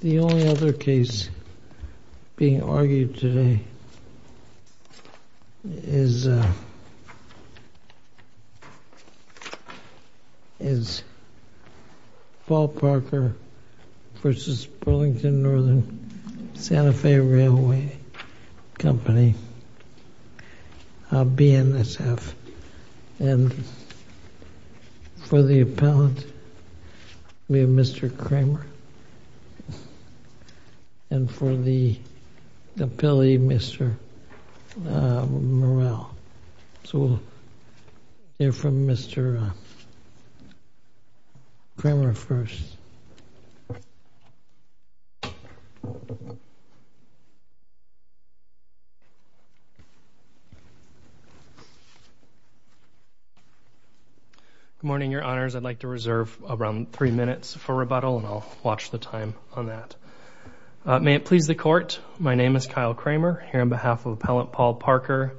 The only other case being argued today is Paul Parker v. Burlington Northern Santa Fe Railway Company, BNSF. And for the appellant, we have Mr. Cramer. And for the appellee, Mr. Morrell. So we'll hear from Mr. Cramer first. Good morning, Your Honors. I'd like to reserve around three minutes for rebuttal, and I'll watch the time on that. May it please the Court, my name is Kyle Cramer, here on behalf of Appellant Paul Parker,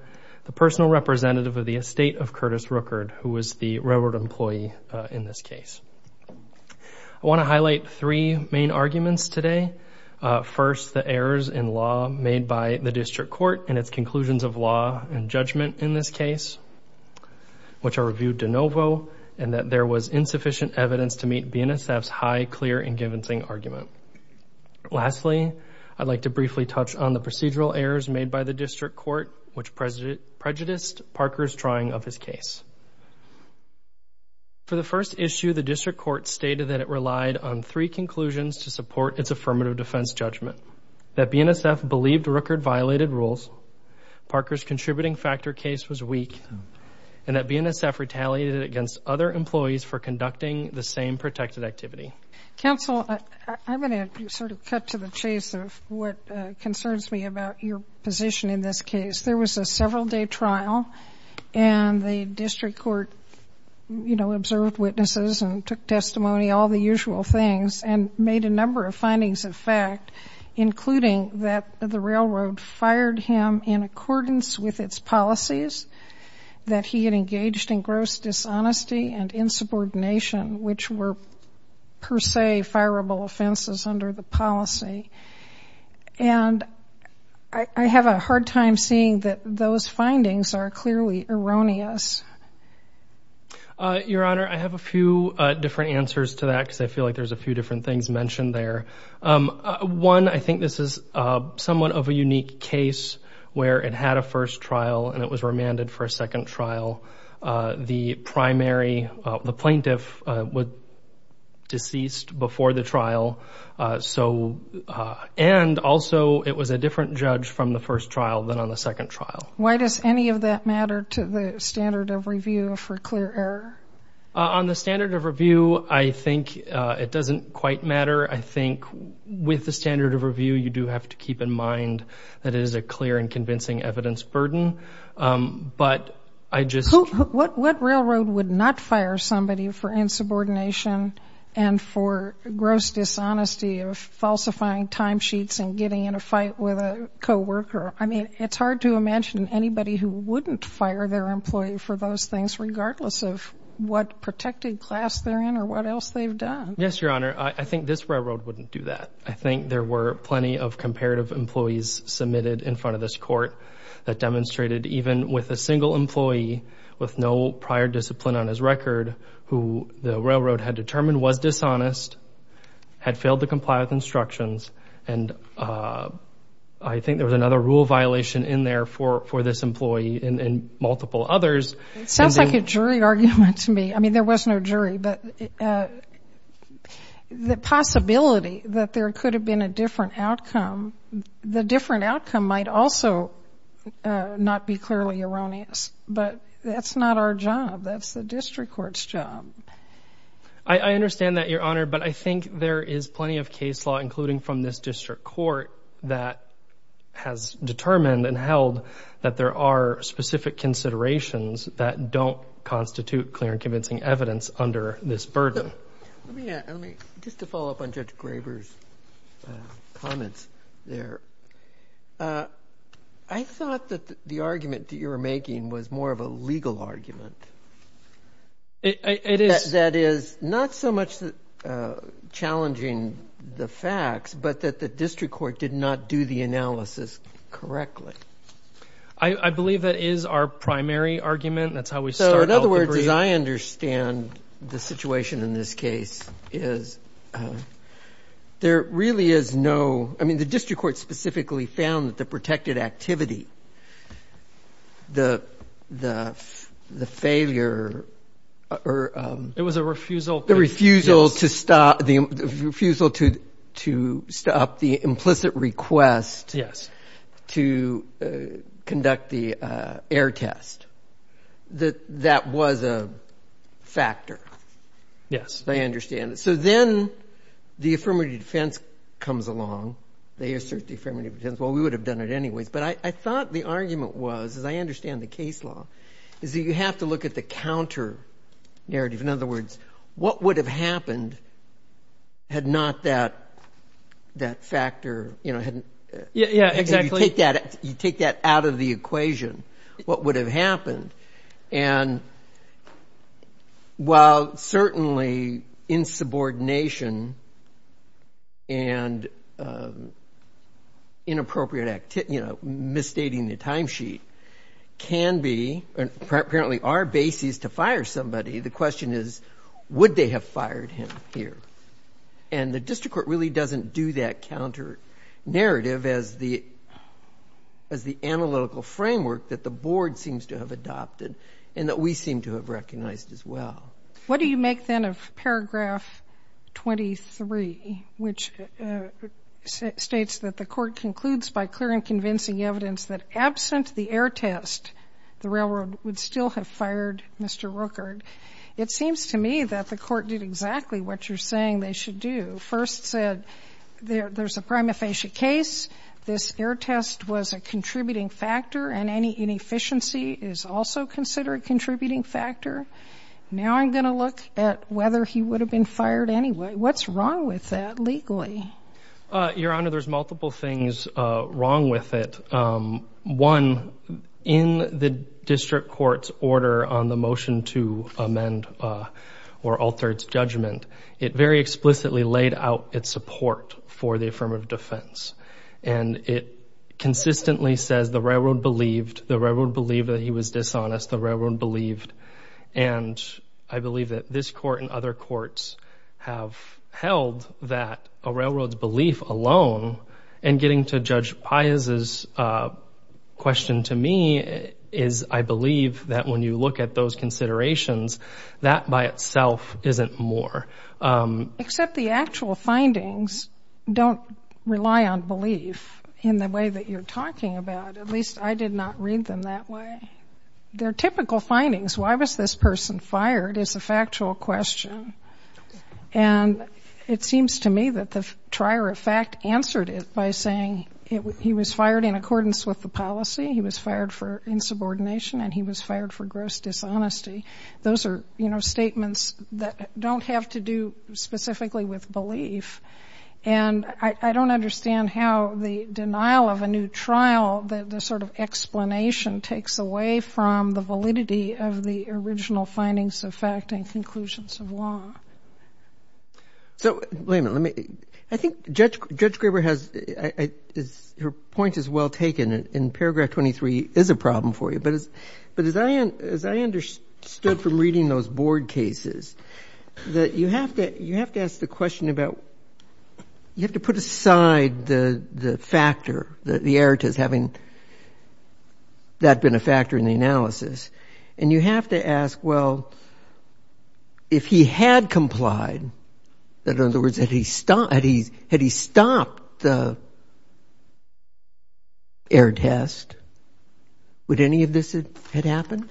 the personal representative of the estate of Curtis Rookard, who was the railroad employee in this case. I want to highlight three main arguments today. First, the errors in law made by the district court in its conclusions of law and judgment in this case, which are reviewed de novo, and that there was insufficient evidence to meet BNSF's high, clear, and convincing argument. Lastly, I'd like to briefly touch on the procedural errors made by the district court, which prejudiced Parker's drawing of his case. For the first issue, the district court stated that it relied on three conclusions to support its affirmative defense judgment, that BNSF believed Rookard violated rules, Parker's contributing factor case was weak, and that BNSF retaliated against other employees for conducting the same protected activity. Counsel, I'm going to sort of cut to the chase of what concerns me about your position in this case. There was a several-day trial, and the district court, you know, observed witnesses and took testimony, all the usual things, and made a number of findings of fact, including that the railroad fired him in accordance with its policies, that he had engaged in gross dishonesty and insubordination, which were per se fireable offenses under the policy. And I have a hard time seeing that those findings are clearly erroneous. Your Honor, I have a few different answers to that because I feel like there's a few different things mentioned there. One, I think this is somewhat of a unique case where it had a first trial and it was remanded for a second trial. The primary plaintiff was deceased before the trial, and also it was a different judge from the first trial than on the second trial. Why does any of that matter to the standard of review for clear error? On the standard of review, I think it doesn't quite matter. I think with the standard of review, you do have to keep in mind that it is a clear and convincing evidence burden. But I just... What railroad would not fire somebody for insubordination and for gross dishonesty of falsifying timesheets and getting in a fight with a coworker? I mean, it's hard to imagine anybody who wouldn't fire their employee for those things, regardless of what protected class they're in or what else they've done. Yes, Your Honor. I think this railroad wouldn't do that. I think there were plenty of comparative employees submitted in front of this court that demonstrated even with a single employee with no prior discipline on his record, who the railroad had determined was dishonest, had failed to comply with instructions, and I think there was another rule violation in there for this employee and multiple others. It sounds like a jury argument to me. I mean, there was no jury, but the possibility that there could have been a different outcome, the different outcome might also not be clearly erroneous, but that's not our job. That's the district court's job. I understand that, Your Honor, but I think there is plenty of case law, including from this district court, that has determined and held that there are specific considerations that don't constitute clear and convincing evidence under this burden. Just to follow up on Judge Graber's comments there, I thought that the argument that you were making was more of a legal argument. It is. That is not so much challenging the facts, but that the district court did not do the analysis correctly. I believe that is our primary argument. That's how we start out the brief. So in other words, as I understand the situation in this case, is there really is no — I mean, the district court specifically found that the protected activity, the failure or — It was a refusal. The refusal to stop the implicit request. Yes. To conduct the error test. That was a factor. Yes. I understand. So then the affirmative defense comes along. They assert the affirmative defense. Well, we would have done it anyways, but I thought the argument was, as I understand the case law, is that you have to look at the counter narrative. In other words, what would have happened had not that factor — Yeah, exactly. If you take that out of the equation, what would have happened? And while certainly insubordination and inappropriate misstating the timesheet can be — apparently are bases to fire somebody, the question is, would they have fired him here? And the district court really doesn't do that counter narrative as the analytical framework that the board seems to have adopted and that we seem to have recognized as well. What do you make, then, of paragraph 23, which states that the court concludes by clear and convincing evidence that absent the error test, the railroad would still have fired Mr. Rueckert? It seems to me that the court did exactly what you're saying they should do. First said there's a prima facie case, this error test was a contributing factor, and any inefficiency is also considered a contributing factor. Now I'm going to look at whether he would have been fired anyway. What's wrong with that legally? Your Honor, there's multiple things wrong with it. One, in the district court's order on the motion to amend or alter its judgment, it very explicitly laid out its support for the affirmative defense. And it consistently says the railroad believed, the railroad believed that he was dishonest, the railroad believed. And I believe that this court and other courts have held that a railroad's belief alone and getting to Judge Pius's question to me is, I believe that when you look at those considerations, that by itself isn't more. Except the actual findings don't rely on belief in the way that you're talking about. At least I did not read them that way. They're typical findings. Why was this person fired is a factual question. And it seems to me that the trier of fact answered it by saying he was fired in accordance with the policy, he was fired for insubordination, and he was fired for gross dishonesty. Those are, you know, statements that don't have to do specifically with belief. And I don't understand how the denial of a new trial, the sort of explanation takes away from the validity of the original findings of fact and conclusions of law. So, wait a minute. I think Judge Graber has, her point is well taken. And paragraph 23 is a problem for you. But as I understood from reading those board cases, that you have to ask the question about, you have to put aside the factor, the error test having that been a factor in the analysis. And you have to ask, well, if he had complied, in other words, had he stopped the error test, would any of this have happened?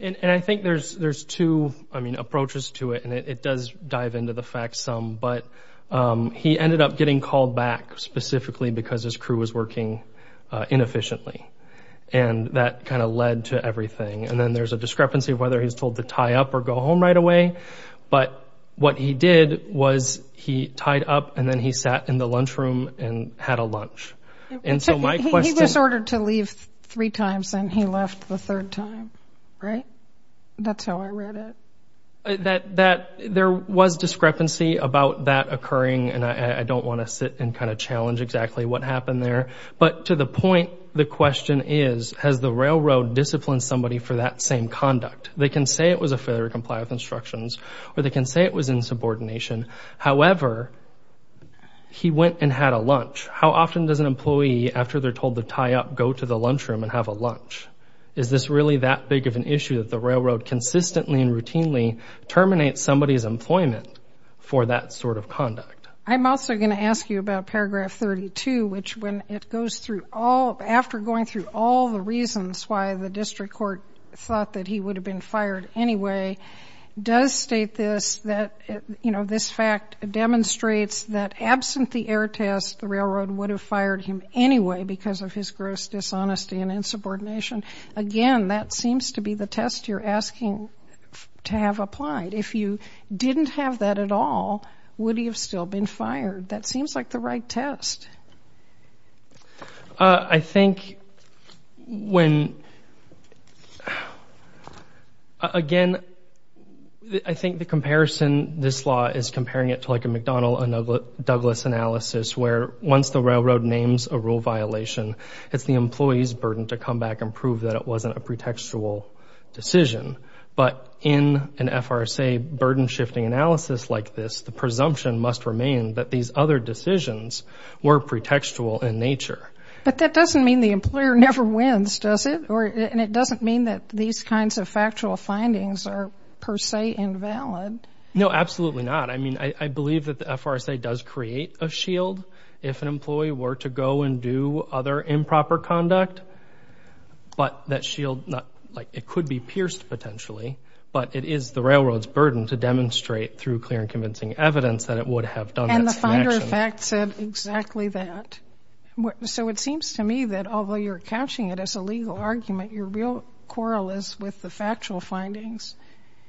And I think there's two, I mean, approaches to it. And it does dive into the fact some. But he ended up getting called back specifically because his crew was working inefficiently. And that kind of led to everything. And then there's a discrepancy of whether he's told to tie up or go home right away. But what he did was he tied up and then he sat in the lunchroom and had a lunch. He was ordered to leave three times and he left the third time, right? That's how I read it. There was discrepancy about that occurring. And I don't want to sit and kind of challenge exactly what happened there. But to the point, the question is, has the railroad disciplined somebody for that same conduct? They can say it was a failure to comply with instructions or they can say it was insubordination. However, he went and had a lunch. How often does an employee, after they're told to tie up, go to the lunchroom and have a lunch? Is this really that big of an issue that the railroad consistently and routinely terminates somebody's employment for that sort of conduct? I'm also going to ask you about paragraph 32, which when it goes through all, after going through all the reasons why the district court thought that he would have been fired anyway, does state this, that, you know, this fact demonstrates that absent the error test, the railroad would have fired him anyway because of his gross dishonesty and insubordination. Again, that seems to be the test you're asking to have applied. If you didn't have that at all, would he have still been fired? That seems like the right test. I think when, again, I think the comparison, this law is comparing it to like a McDonnell and Douglas analysis where once the railroad names a rule violation, it's the employee's burden to come back and prove that it wasn't a pretextual decision. But in an FRSA burden-shifting analysis like this, the presumption must remain that these other decisions were pretextual in nature. But that doesn't mean the employer never wins, does it? And it doesn't mean that these kinds of factual findings are per se invalid. No, absolutely not. I mean, I believe that the FRSA does create a shield if an employee were to go and do other improper conduct, but that shield, like it could be pierced potentially, but it is the railroad's burden to demonstrate through clear and convincing evidence that it would have done this in action. And the finder of fact said exactly that. So it seems to me that although you're catching it as a legal argument, your real quarrel is with the factual findings.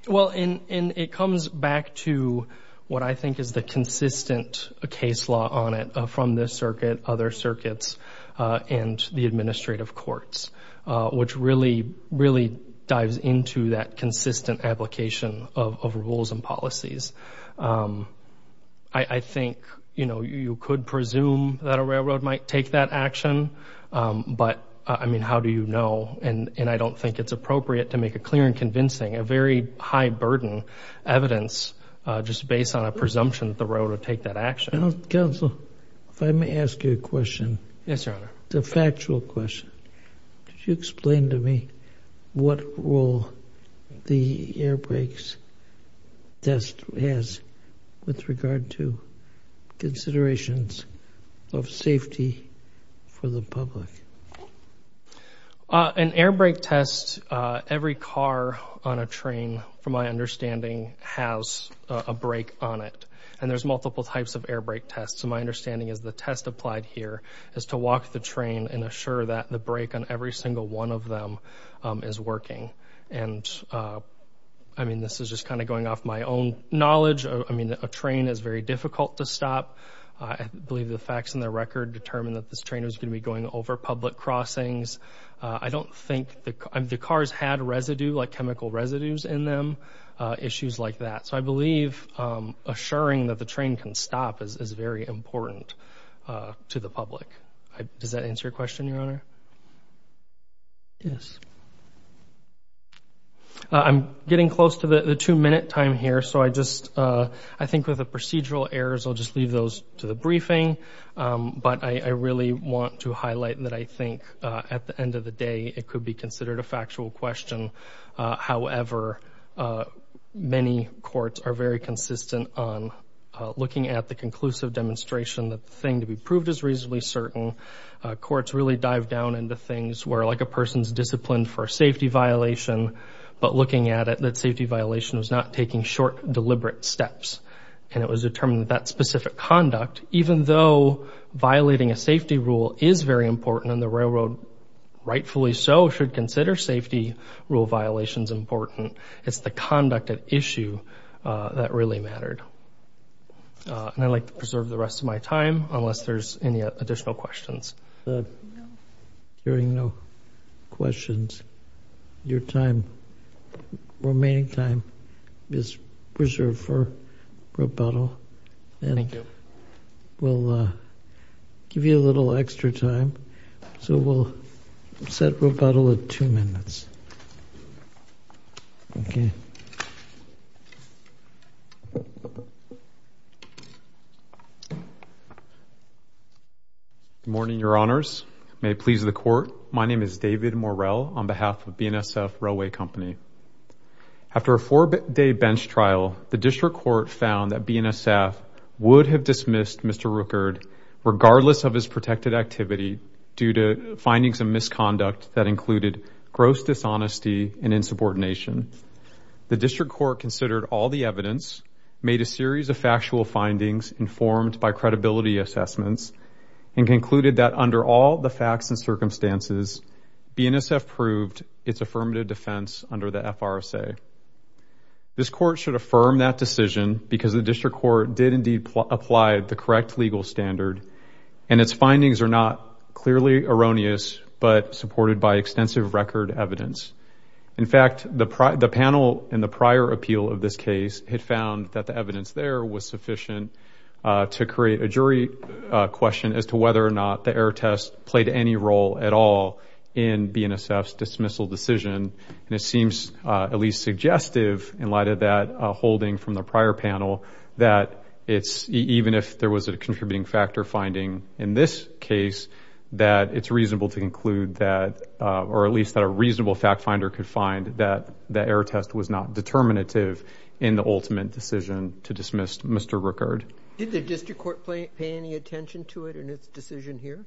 Well, and it comes back to what I think is the consistent case law on it from this circuit, other circuits, and the administrative courts, which really, really dives into that consistent application of rules and policies. I think, you know, you could presume that a railroad might take that action, but, I mean, how do you know? And I don't think it's appropriate to make a clear and convincing, a very high-burden evidence just based on a presumption that the railroad would take that action. Counsel, if I may ask you a question. Yes, Your Honor. It's a factual question. Could you explain to me what role the air brakes test has with regard to considerations of safety for the public? An air brake test, every car on a train, from my understanding, has a brake on it, and there's multiple types of air brake tests. So my understanding is the test applied here is to walk the train and assure that the brake on every single one of them is working. And, I mean, this is just kind of going off my own knowledge. I mean, a train is very difficult to stop. I believe the facts in the record determine that this train is going to be going over public crossings. I don't think the cars had residue, like chemical residues in them, issues like that. So I believe assuring that the train can stop is very important to the public. Does that answer your question, Your Honor? Yes. I'm getting close to the two-minute time here, so I think with the procedural errors I'll just leave those to the briefing. But I really want to highlight that I think at the end of the day it could be considered a factual question. However, many courts are very consistent on looking at the conclusive demonstration that the thing to be proved is reasonably certain. Courts really dive down into things where, like, a person's disciplined for a safety violation, but looking at it, that safety violation was not taking short, deliberate steps, and it was determined that that specific conduct, even though violating a safety rule is very important, and the railroad rightfully so should consider safety rule violations important, it's the conduct at issue that really mattered. And I'd like to preserve the rest of my time unless there's any additional questions. Hearing no questions, your time, remaining time, is preserved for rebuttal. Thank you. We'll give you a little extra time, so we'll set rebuttal at two minutes. Okay. Good morning, Your Honors. May it please the Court, my name is David Morrell on behalf of BNSF Railway Company. After a four-day bench trial, the district court found that BNSF would have dismissed Mr. Rueckert regardless of his protected activity due to findings of misconduct that included gross dishonesty and insubordination. The district court considered all the evidence, made a series of factual findings informed by credibility assessments, and concluded that under all the facts and circumstances, BNSF proved its affirmative defense under the FRSA. This court should affirm that decision because the district court did indeed apply the correct legal standard, and its findings are not clearly erroneous but supported by extensive record evidence. In fact, the panel in the prior appeal of this case had found that the evidence there was sufficient to create a jury question as to whether or not the error test played any role at all in BNSF's dismissal decision. It seems at least suggestive in light of that holding from the prior panel that even if there was a contributing factor finding in this case, that it's reasonable to conclude that, or at least that a reasonable fact finder could find that the error test was not determinative in the ultimate decision to dismiss Mr. Rueckert. Did the district court pay any attention to it in its decision here?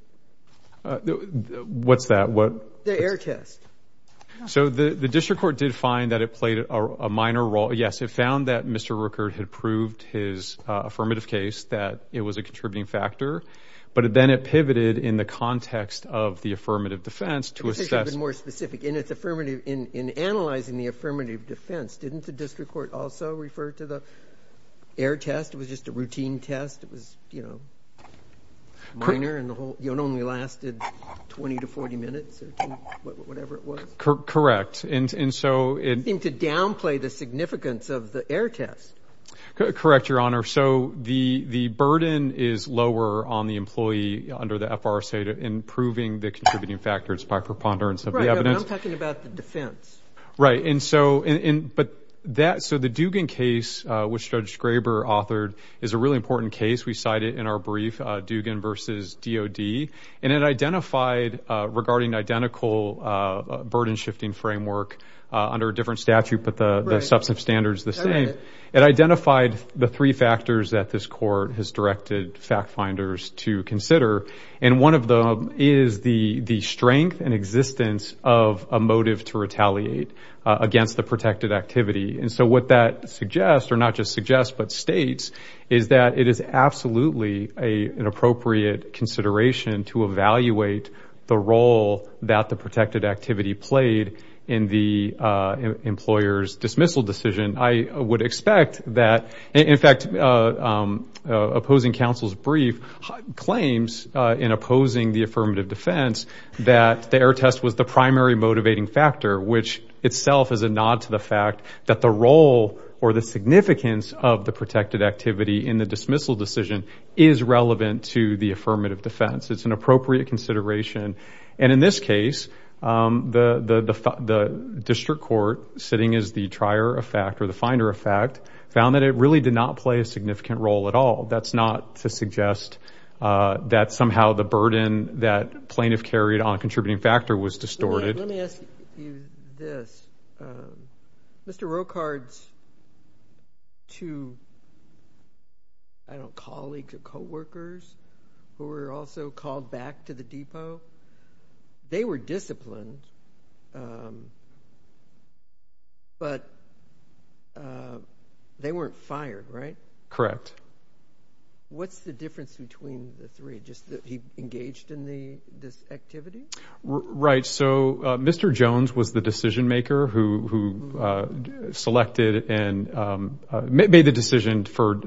What's that? The error test. So the district court did find that it played a minor role. Yes, it found that Mr. Rueckert had proved his affirmative case that it was a contributing factor, but then it pivoted in the context of the affirmative defense to assess. It should have been more specific. In its affirmative, in analyzing the affirmative defense, didn't the district court also refer to the error test? It was just a routine test. It was minor, and it only lasted 20 to 40 minutes or whatever it was. Correct. It seemed to downplay the significance of the error test. Correct, Your Honor. So the burden is lower on the employee under the FRSA to improving the contributing factors by preponderance of the evidence. Right, but I'm talking about the defense. Right, and so the Dugan case, which Judge Graber authored, is a really important case. We cite it in our brief, Dugan v. DoD, and it identified regarding identical burden-shifting framework under a different statute, but the substantive standard is the same. It identified the three factors that this court has directed fact-finders to consider, and one of them is the strength and existence of a motive to retaliate against the protected activity. And so what that suggests, or not just suggests but states, is that it is absolutely an appropriate consideration to evaluate the role that the protected activity played in the employer's dismissal decision. I would expect that, in fact, opposing counsel's brief claims in opposing the affirmative defense that the error test was the primary motivating factor, which itself is a nod to the fact that the role or the significance of the protected activity in the dismissal decision is relevant to the affirmative defense. It's an appropriate consideration. And in this case, the district court, sitting as the trier of fact or the finder of fact, found that it really did not play a significant role at all. That's not to suggest that somehow the burden that plaintiff carried on a contributing factor was distorted. Let me ask you this. Mr. Rochard's two, I don't know, colleagues or coworkers who were also called back to the depot, they were disciplined, but they weren't fired, right? Correct. What's the difference between the three, just that he engaged in this activity? Right. So Mr. Jones was the decision maker who selected and made the decision for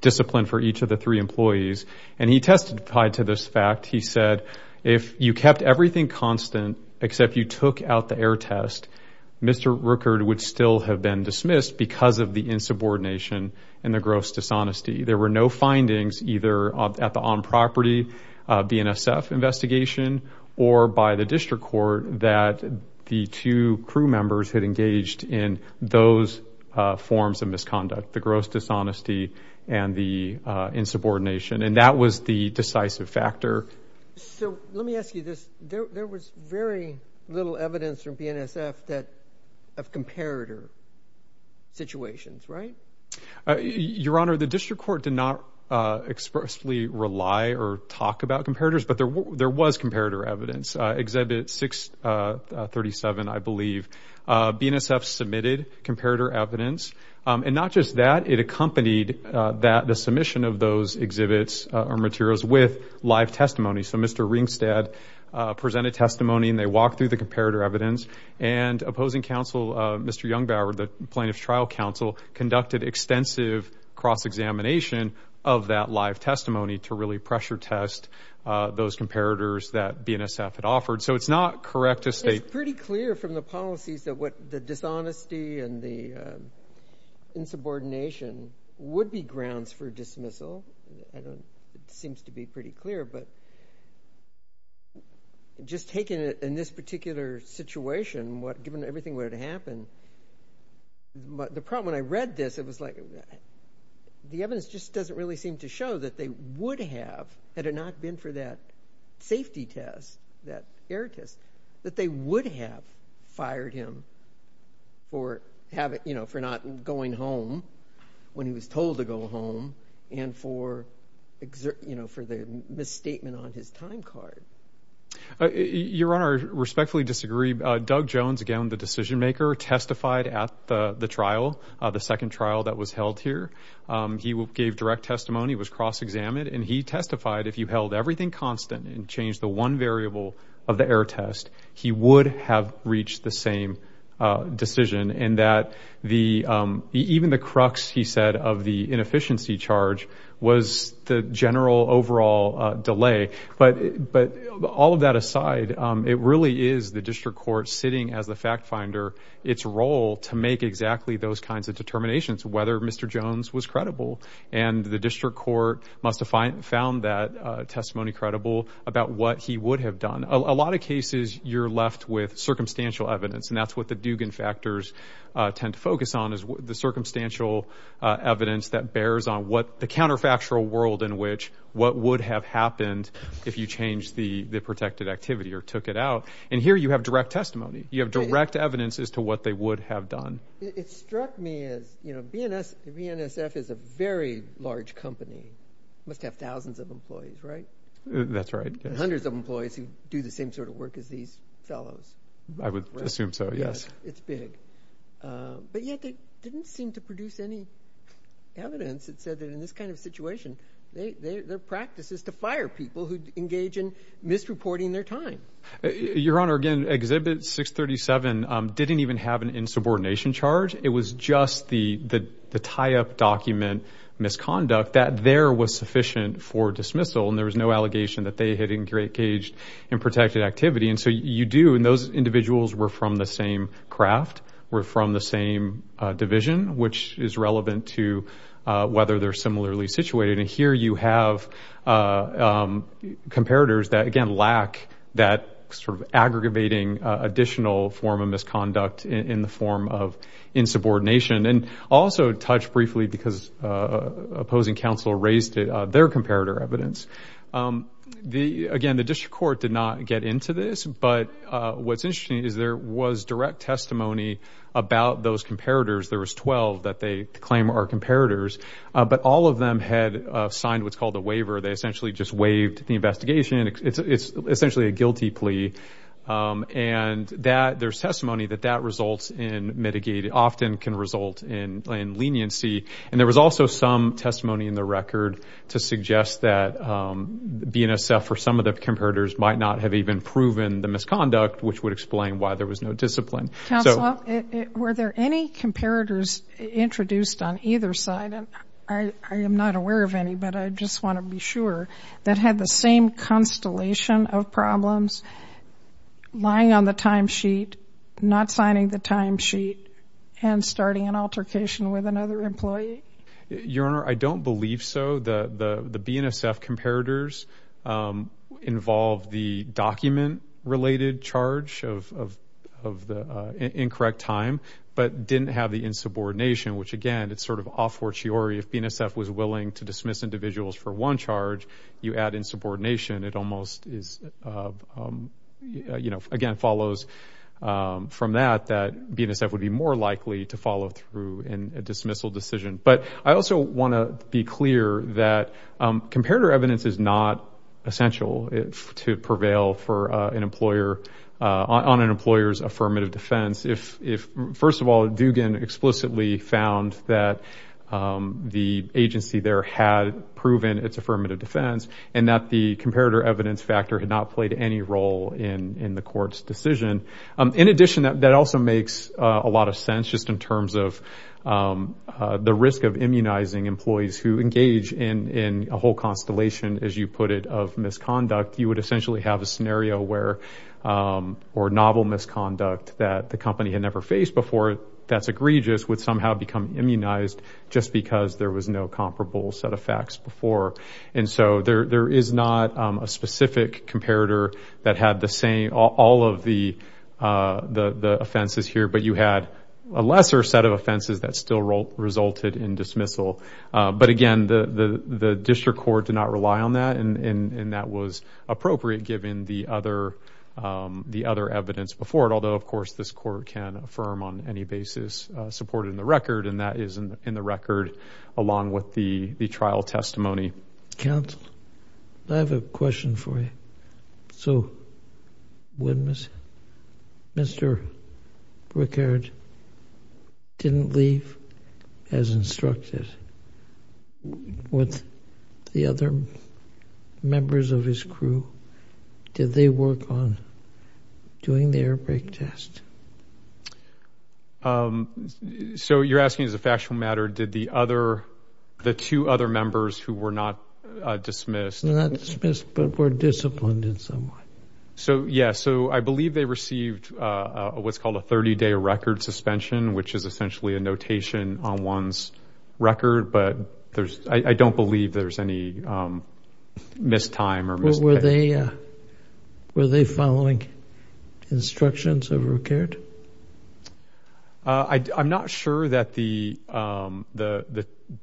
discipline for each of the three employees. And he testified to this fact. He said, if you kept everything constant except you took out the error test, Mr. Rochard would still have been dismissed because of the insubordination and the gross dishonesty. There were no findings either at the on-property BNSF investigation or by the district court that the two crew members had engaged in those forms of misconduct, the gross dishonesty and the insubordination. And that was the decisive factor. So let me ask you this. There was very little evidence from BNSF of comparator situations, right? Your Honor, the district court did not expressly rely or talk about comparators, but there was comparator evidence. Exhibit 637, I believe, BNSF submitted comparator evidence. And not just that, it accompanied the submission of those exhibits or materials with live testimony. So Mr. Ringstead presented testimony, and they walked through the comparator evidence. And opposing counsel, Mr. Jungbauer, the Plaintiff's Trial Counsel, conducted extensive cross-examination of that live testimony to really pressure test those comparators that BNSF had offered. So it's not correct to state. It's pretty clear from the policies that the dishonesty and the insubordination would be grounds for dismissal. It seems to be pretty clear, but just taking it in this particular situation, given everything that would have happened, the problem when I read this, it was like the evidence just doesn't really seem to show that they would have, had it not been for that safety test, that error test, that they would have fired him for not going home when he was told to go home and for the misstatement on his time card. Your Honor, I respectfully disagree. Doug Jones, again, the decision-maker, testified at the trial, the second trial that was held here. He gave direct testimony, was cross-examined, and he testified if you held everything constant and changed the one variable of the error test, he would have reached the same decision, and that even the crux, he said, of the inefficiency charge was the general overall delay. But all of that aside, it really is the district court sitting as the fact-finder, its role to make exactly those kinds of determinations, whether Mr. Jones was credible. And the district court must have found that testimony credible about what he would have done. A lot of cases you're left with circumstantial evidence, and that's what the Dugan factors tend to focus on is the circumstantial evidence that bears on what the counterfactual world in which what would have happened if you changed the protected activity or took it out. And here you have direct testimony. You have direct evidence as to what they would have done. It struck me as, you know, BNSF is a very large company. It must have thousands of employees, right? That's right. Hundreds of employees who do the same sort of work as these fellows. I would assume so, yes. It's big. But yet they didn't seem to produce any evidence that said that in this kind of situation, their practice is to fire people who engage in misreporting their time. Your Honor, again, Exhibit 637 didn't even have an insubordination charge. It was just the tie-up document misconduct that there was sufficient for dismissal, and there was no allegation that they had engaged in protected activity. And so you do, and those individuals were from the same craft, were from the same division, which is relevant to whether they're similarly situated. And here you have comparators that, again, lack that sort of aggravating additional form of misconduct in the form of insubordination. And I'll also touch briefly because opposing counsel raised their comparator evidence. Again, the district court did not get into this, but what's interesting is there was direct testimony about those comparators. There was 12 that they claim are comparators. But all of them had signed what's called a waiver. They essentially just waived the investigation. It's essentially a guilty plea. And there's testimony that that results in mitigating, often can result in leniency. And there was also some testimony in the record to suggest that BNSF or some of the comparators might not have even proven the misconduct, which would explain why there was no discipline. Were there any comparators introduced on either side, and I am not aware of any, but I just want to be sure, that had the same constellation of problems, lying on the timesheet, not signing the timesheet, and starting an altercation with another employee? Your Honor, I don't believe so. The BNSF comparators involved the document-related charge of the incorrect time, but didn't have the insubordination, which, again, it's sort of off-fortiori. If BNSF was willing to dismiss individuals for one charge, you add insubordination. It almost is, you know, again follows from that, that BNSF would be more likely to follow through in a dismissal decision. But I also want to be clear that comparator evidence is not essential to prevail on an employer's affirmative defense. First of all, Dugan explicitly found that the agency there had proven its affirmative defense and that the comparator evidence factor had not played any role in the court's decision. In addition, that also makes a lot of sense just in terms of the risk of immunizing employees who engage in a whole constellation, as you put it, of misconduct. You would essentially have a scenario where, or novel misconduct, that the company had never faced before that's egregious would somehow become immunized just because there was no comparable set of facts before. And so there is not a specific comparator that had all of the offenses here, but you had a lesser set of offenses that still resulted in dismissal. But again, the district court did not rely on that, and that was appropriate given the other evidence before it. Although, of course, this court can affirm on any basis supported in the record, and that is in the record along with the trial testimony. Counsel, I have a question for you. So Mr. Brickard didn't leave as instructed with the other members of his crew? Did they work on doing the air brake test? So you're asking as a factual matter, did the two other members who were not dismissed? Not dismissed, but were disciplined in some way. Yes, so I believe they received what's called a 30-day record suspension, which is essentially a notation on one's record, but I don't believe there's any missed time. Were they following instructions of Brickard? I'm not sure that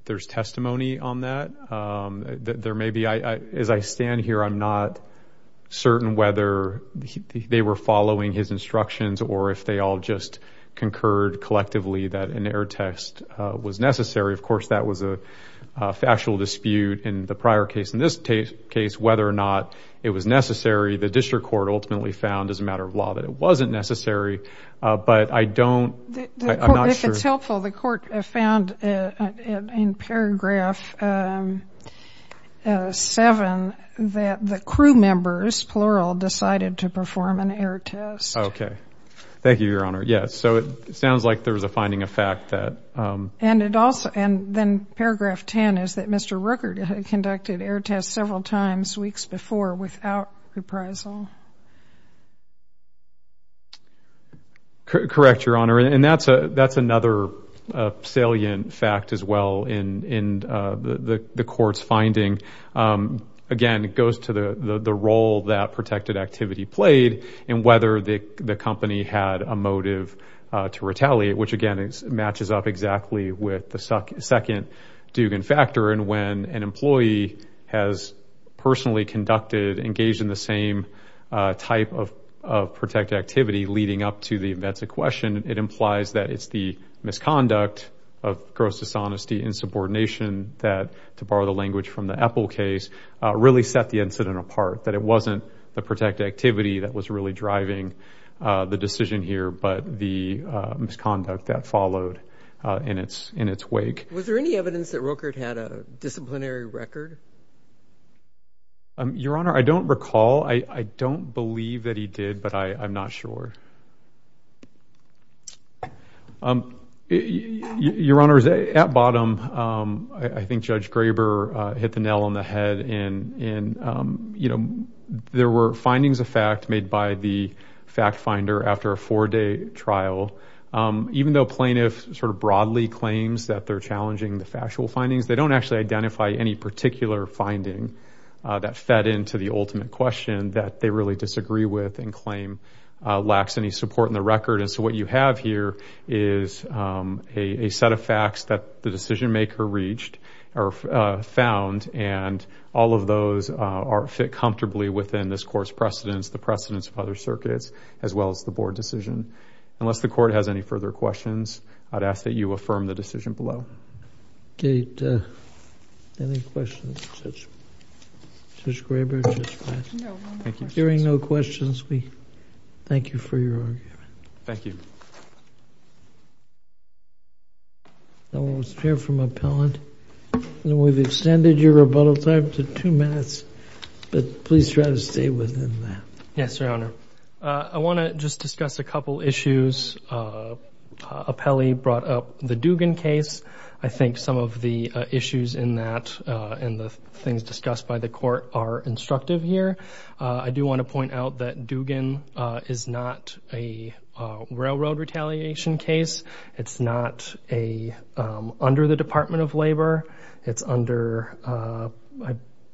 there's testimony on that. There may be. As I stand here, I'm not certain whether they were following his instructions or if they all just concurred collectively that an air test was necessary. Of course, that was a factual dispute in the prior case. In this case, whether or not it was necessary, the district court ultimately found as a matter of law that it wasn't necessary. But I don't, I'm not sure. If it's helpful, the court found in paragraph 7 that the crew members, plural, decided to perform an air test. Okay. Thank you, Your Honor. Yes, so it sounds like there was a finding of fact that. And then paragraph 10 is that Mr. Rooker conducted air tests several times weeks before without reprisal. Correct, Your Honor, and that's another salient fact as well in the court's finding. Again, it goes to the role that protected activity played and whether the company had a motive to retaliate, which, again, matches up exactly with the second Dugan factor. And when an employee has personally conducted, engaged in the same type of protected activity leading up to the events in question, it implies that it's the misconduct of gross dishonesty and subordination that, to borrow the language from the Apple case, really set the incident apart, that it wasn't the protected activity that was really driving the decision here, but the misconduct that followed in its wake. Was there any evidence that Rooker had a disciplinary record? Your Honor, I don't recall. I don't believe that he did, but I'm not sure. Your Honor, at bottom, I think Judge Graber hit the nail on the head. There were findings of fact made by the fact finder after a four-day trial. Even though plaintiff sort of broadly claims that they're challenging the factual findings, they don't actually identify any particular finding that fed into the ultimate question that they really disagree with and claim lacks any support in the record. And so what you have here is a set of facts that the decision maker reached or found and all of those fit comfortably within this court's precedence, the precedence of other circuits, as well as the board decision. Unless the court has any further questions, I'd ask that you affirm the decision below. Okay. Any questions of Judge Graber? Hearing no questions, we thank you for your argument. Thank you. Thank you. Now we'll hear from Appellant. We've extended your rebuttal time to two minutes, but please try to stay within that. Yes, Your Honor. I want to just discuss a couple issues. Appellee brought up the Dugan case. I think some of the issues in that and the things discussed by the court are instructive here. I do want to point out that Dugan is not a railroad retaliation case. It's not under the Department of Labor. It's under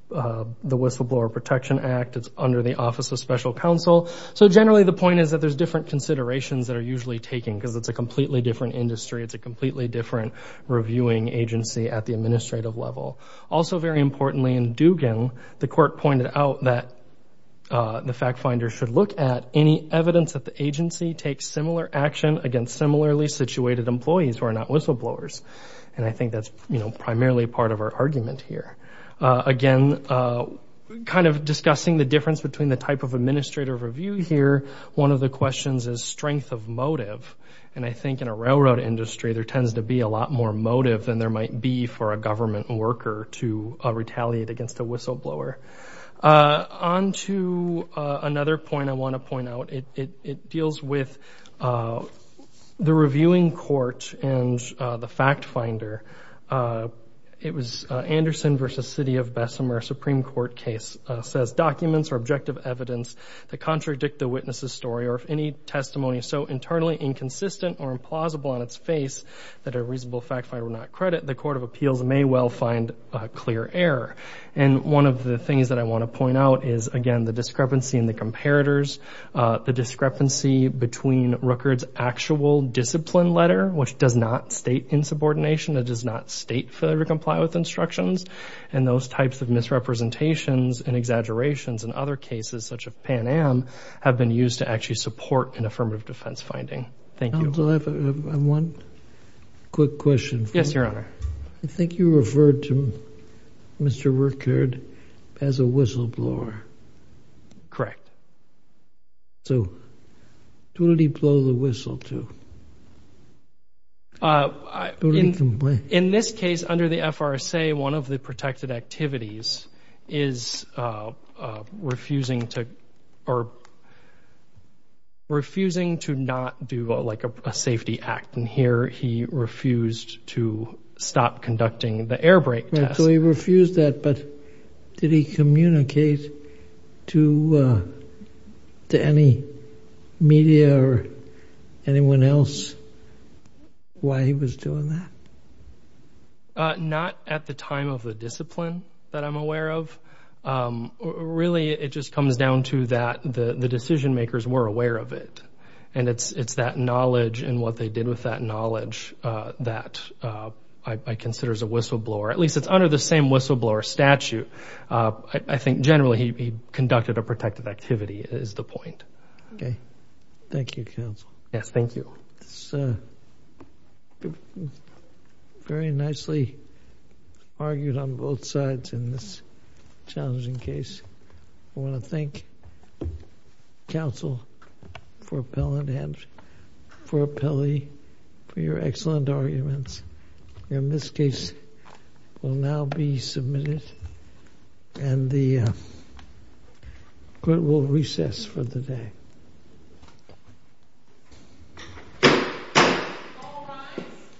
the Whistleblower Protection Act. It's under the Office of Special Counsel. So generally the point is that there's different considerations that are usually taken because it's a completely different industry. It's a completely different reviewing agency at the administrative level. Also very importantly in Dugan, the court pointed out that the fact finder should look at any evidence that the agency takes similar action against similarly situated employees who are not whistleblowers. And I think that's, you know, primarily part of our argument here. Again, kind of discussing the difference between the type of administrative review here, one of the questions is strength of motive. And I think in a railroad industry there tends to be a lot more motive than there might be for a government worker to retaliate against a whistleblower. On to another point I want to point out. It deals with the reviewing court and the fact finder. It was Anderson v. City of Bessemer Supreme Court case, says documents or objective evidence that contradict the witness's story or if any testimony is so internally inconsistent or implausible on its face that a reasonable fact finder would not credit, the court of appeals may well find clear error. And one of the things that I want to point out is, again, the discrepancy in the comparators, the discrepancy between Rooker's actual discipline letter, which does not state insubordination, it does not state failure to comply with instructions, and those types of misrepresentations and exaggerations in other cases such as Pan Am have been used to actually support an affirmative defense finding. Thank you. I have one quick question for you. Yes, Your Honor. I think you referred to Mr. Rooker as a whistleblower. Correct. So what did he blow the whistle to? In this case, under the FRSA, one of the protected activities is refusing to or refusing to not do like a safety act, and here he refused to stop conducting the air brake test. So he refused that, but did he communicate to any media or anyone else why he was doing that? Not at the time of the discipline that I'm aware of. Really, it just comes down to that the decision makers were aware of it, and it's that knowledge and what they did with that knowledge that I consider as a whistleblower. At least it's under the same whistleblower statute. I think generally he conducted a protected activity is the point. Okay. Thank you, counsel. Yes, thank you. It's very nicely argued on both sides in this challenging case. I want to thank counsel for appellate and for appellee for your excellent arguments. And this case will now be submitted and the court will recess for the day. All rise.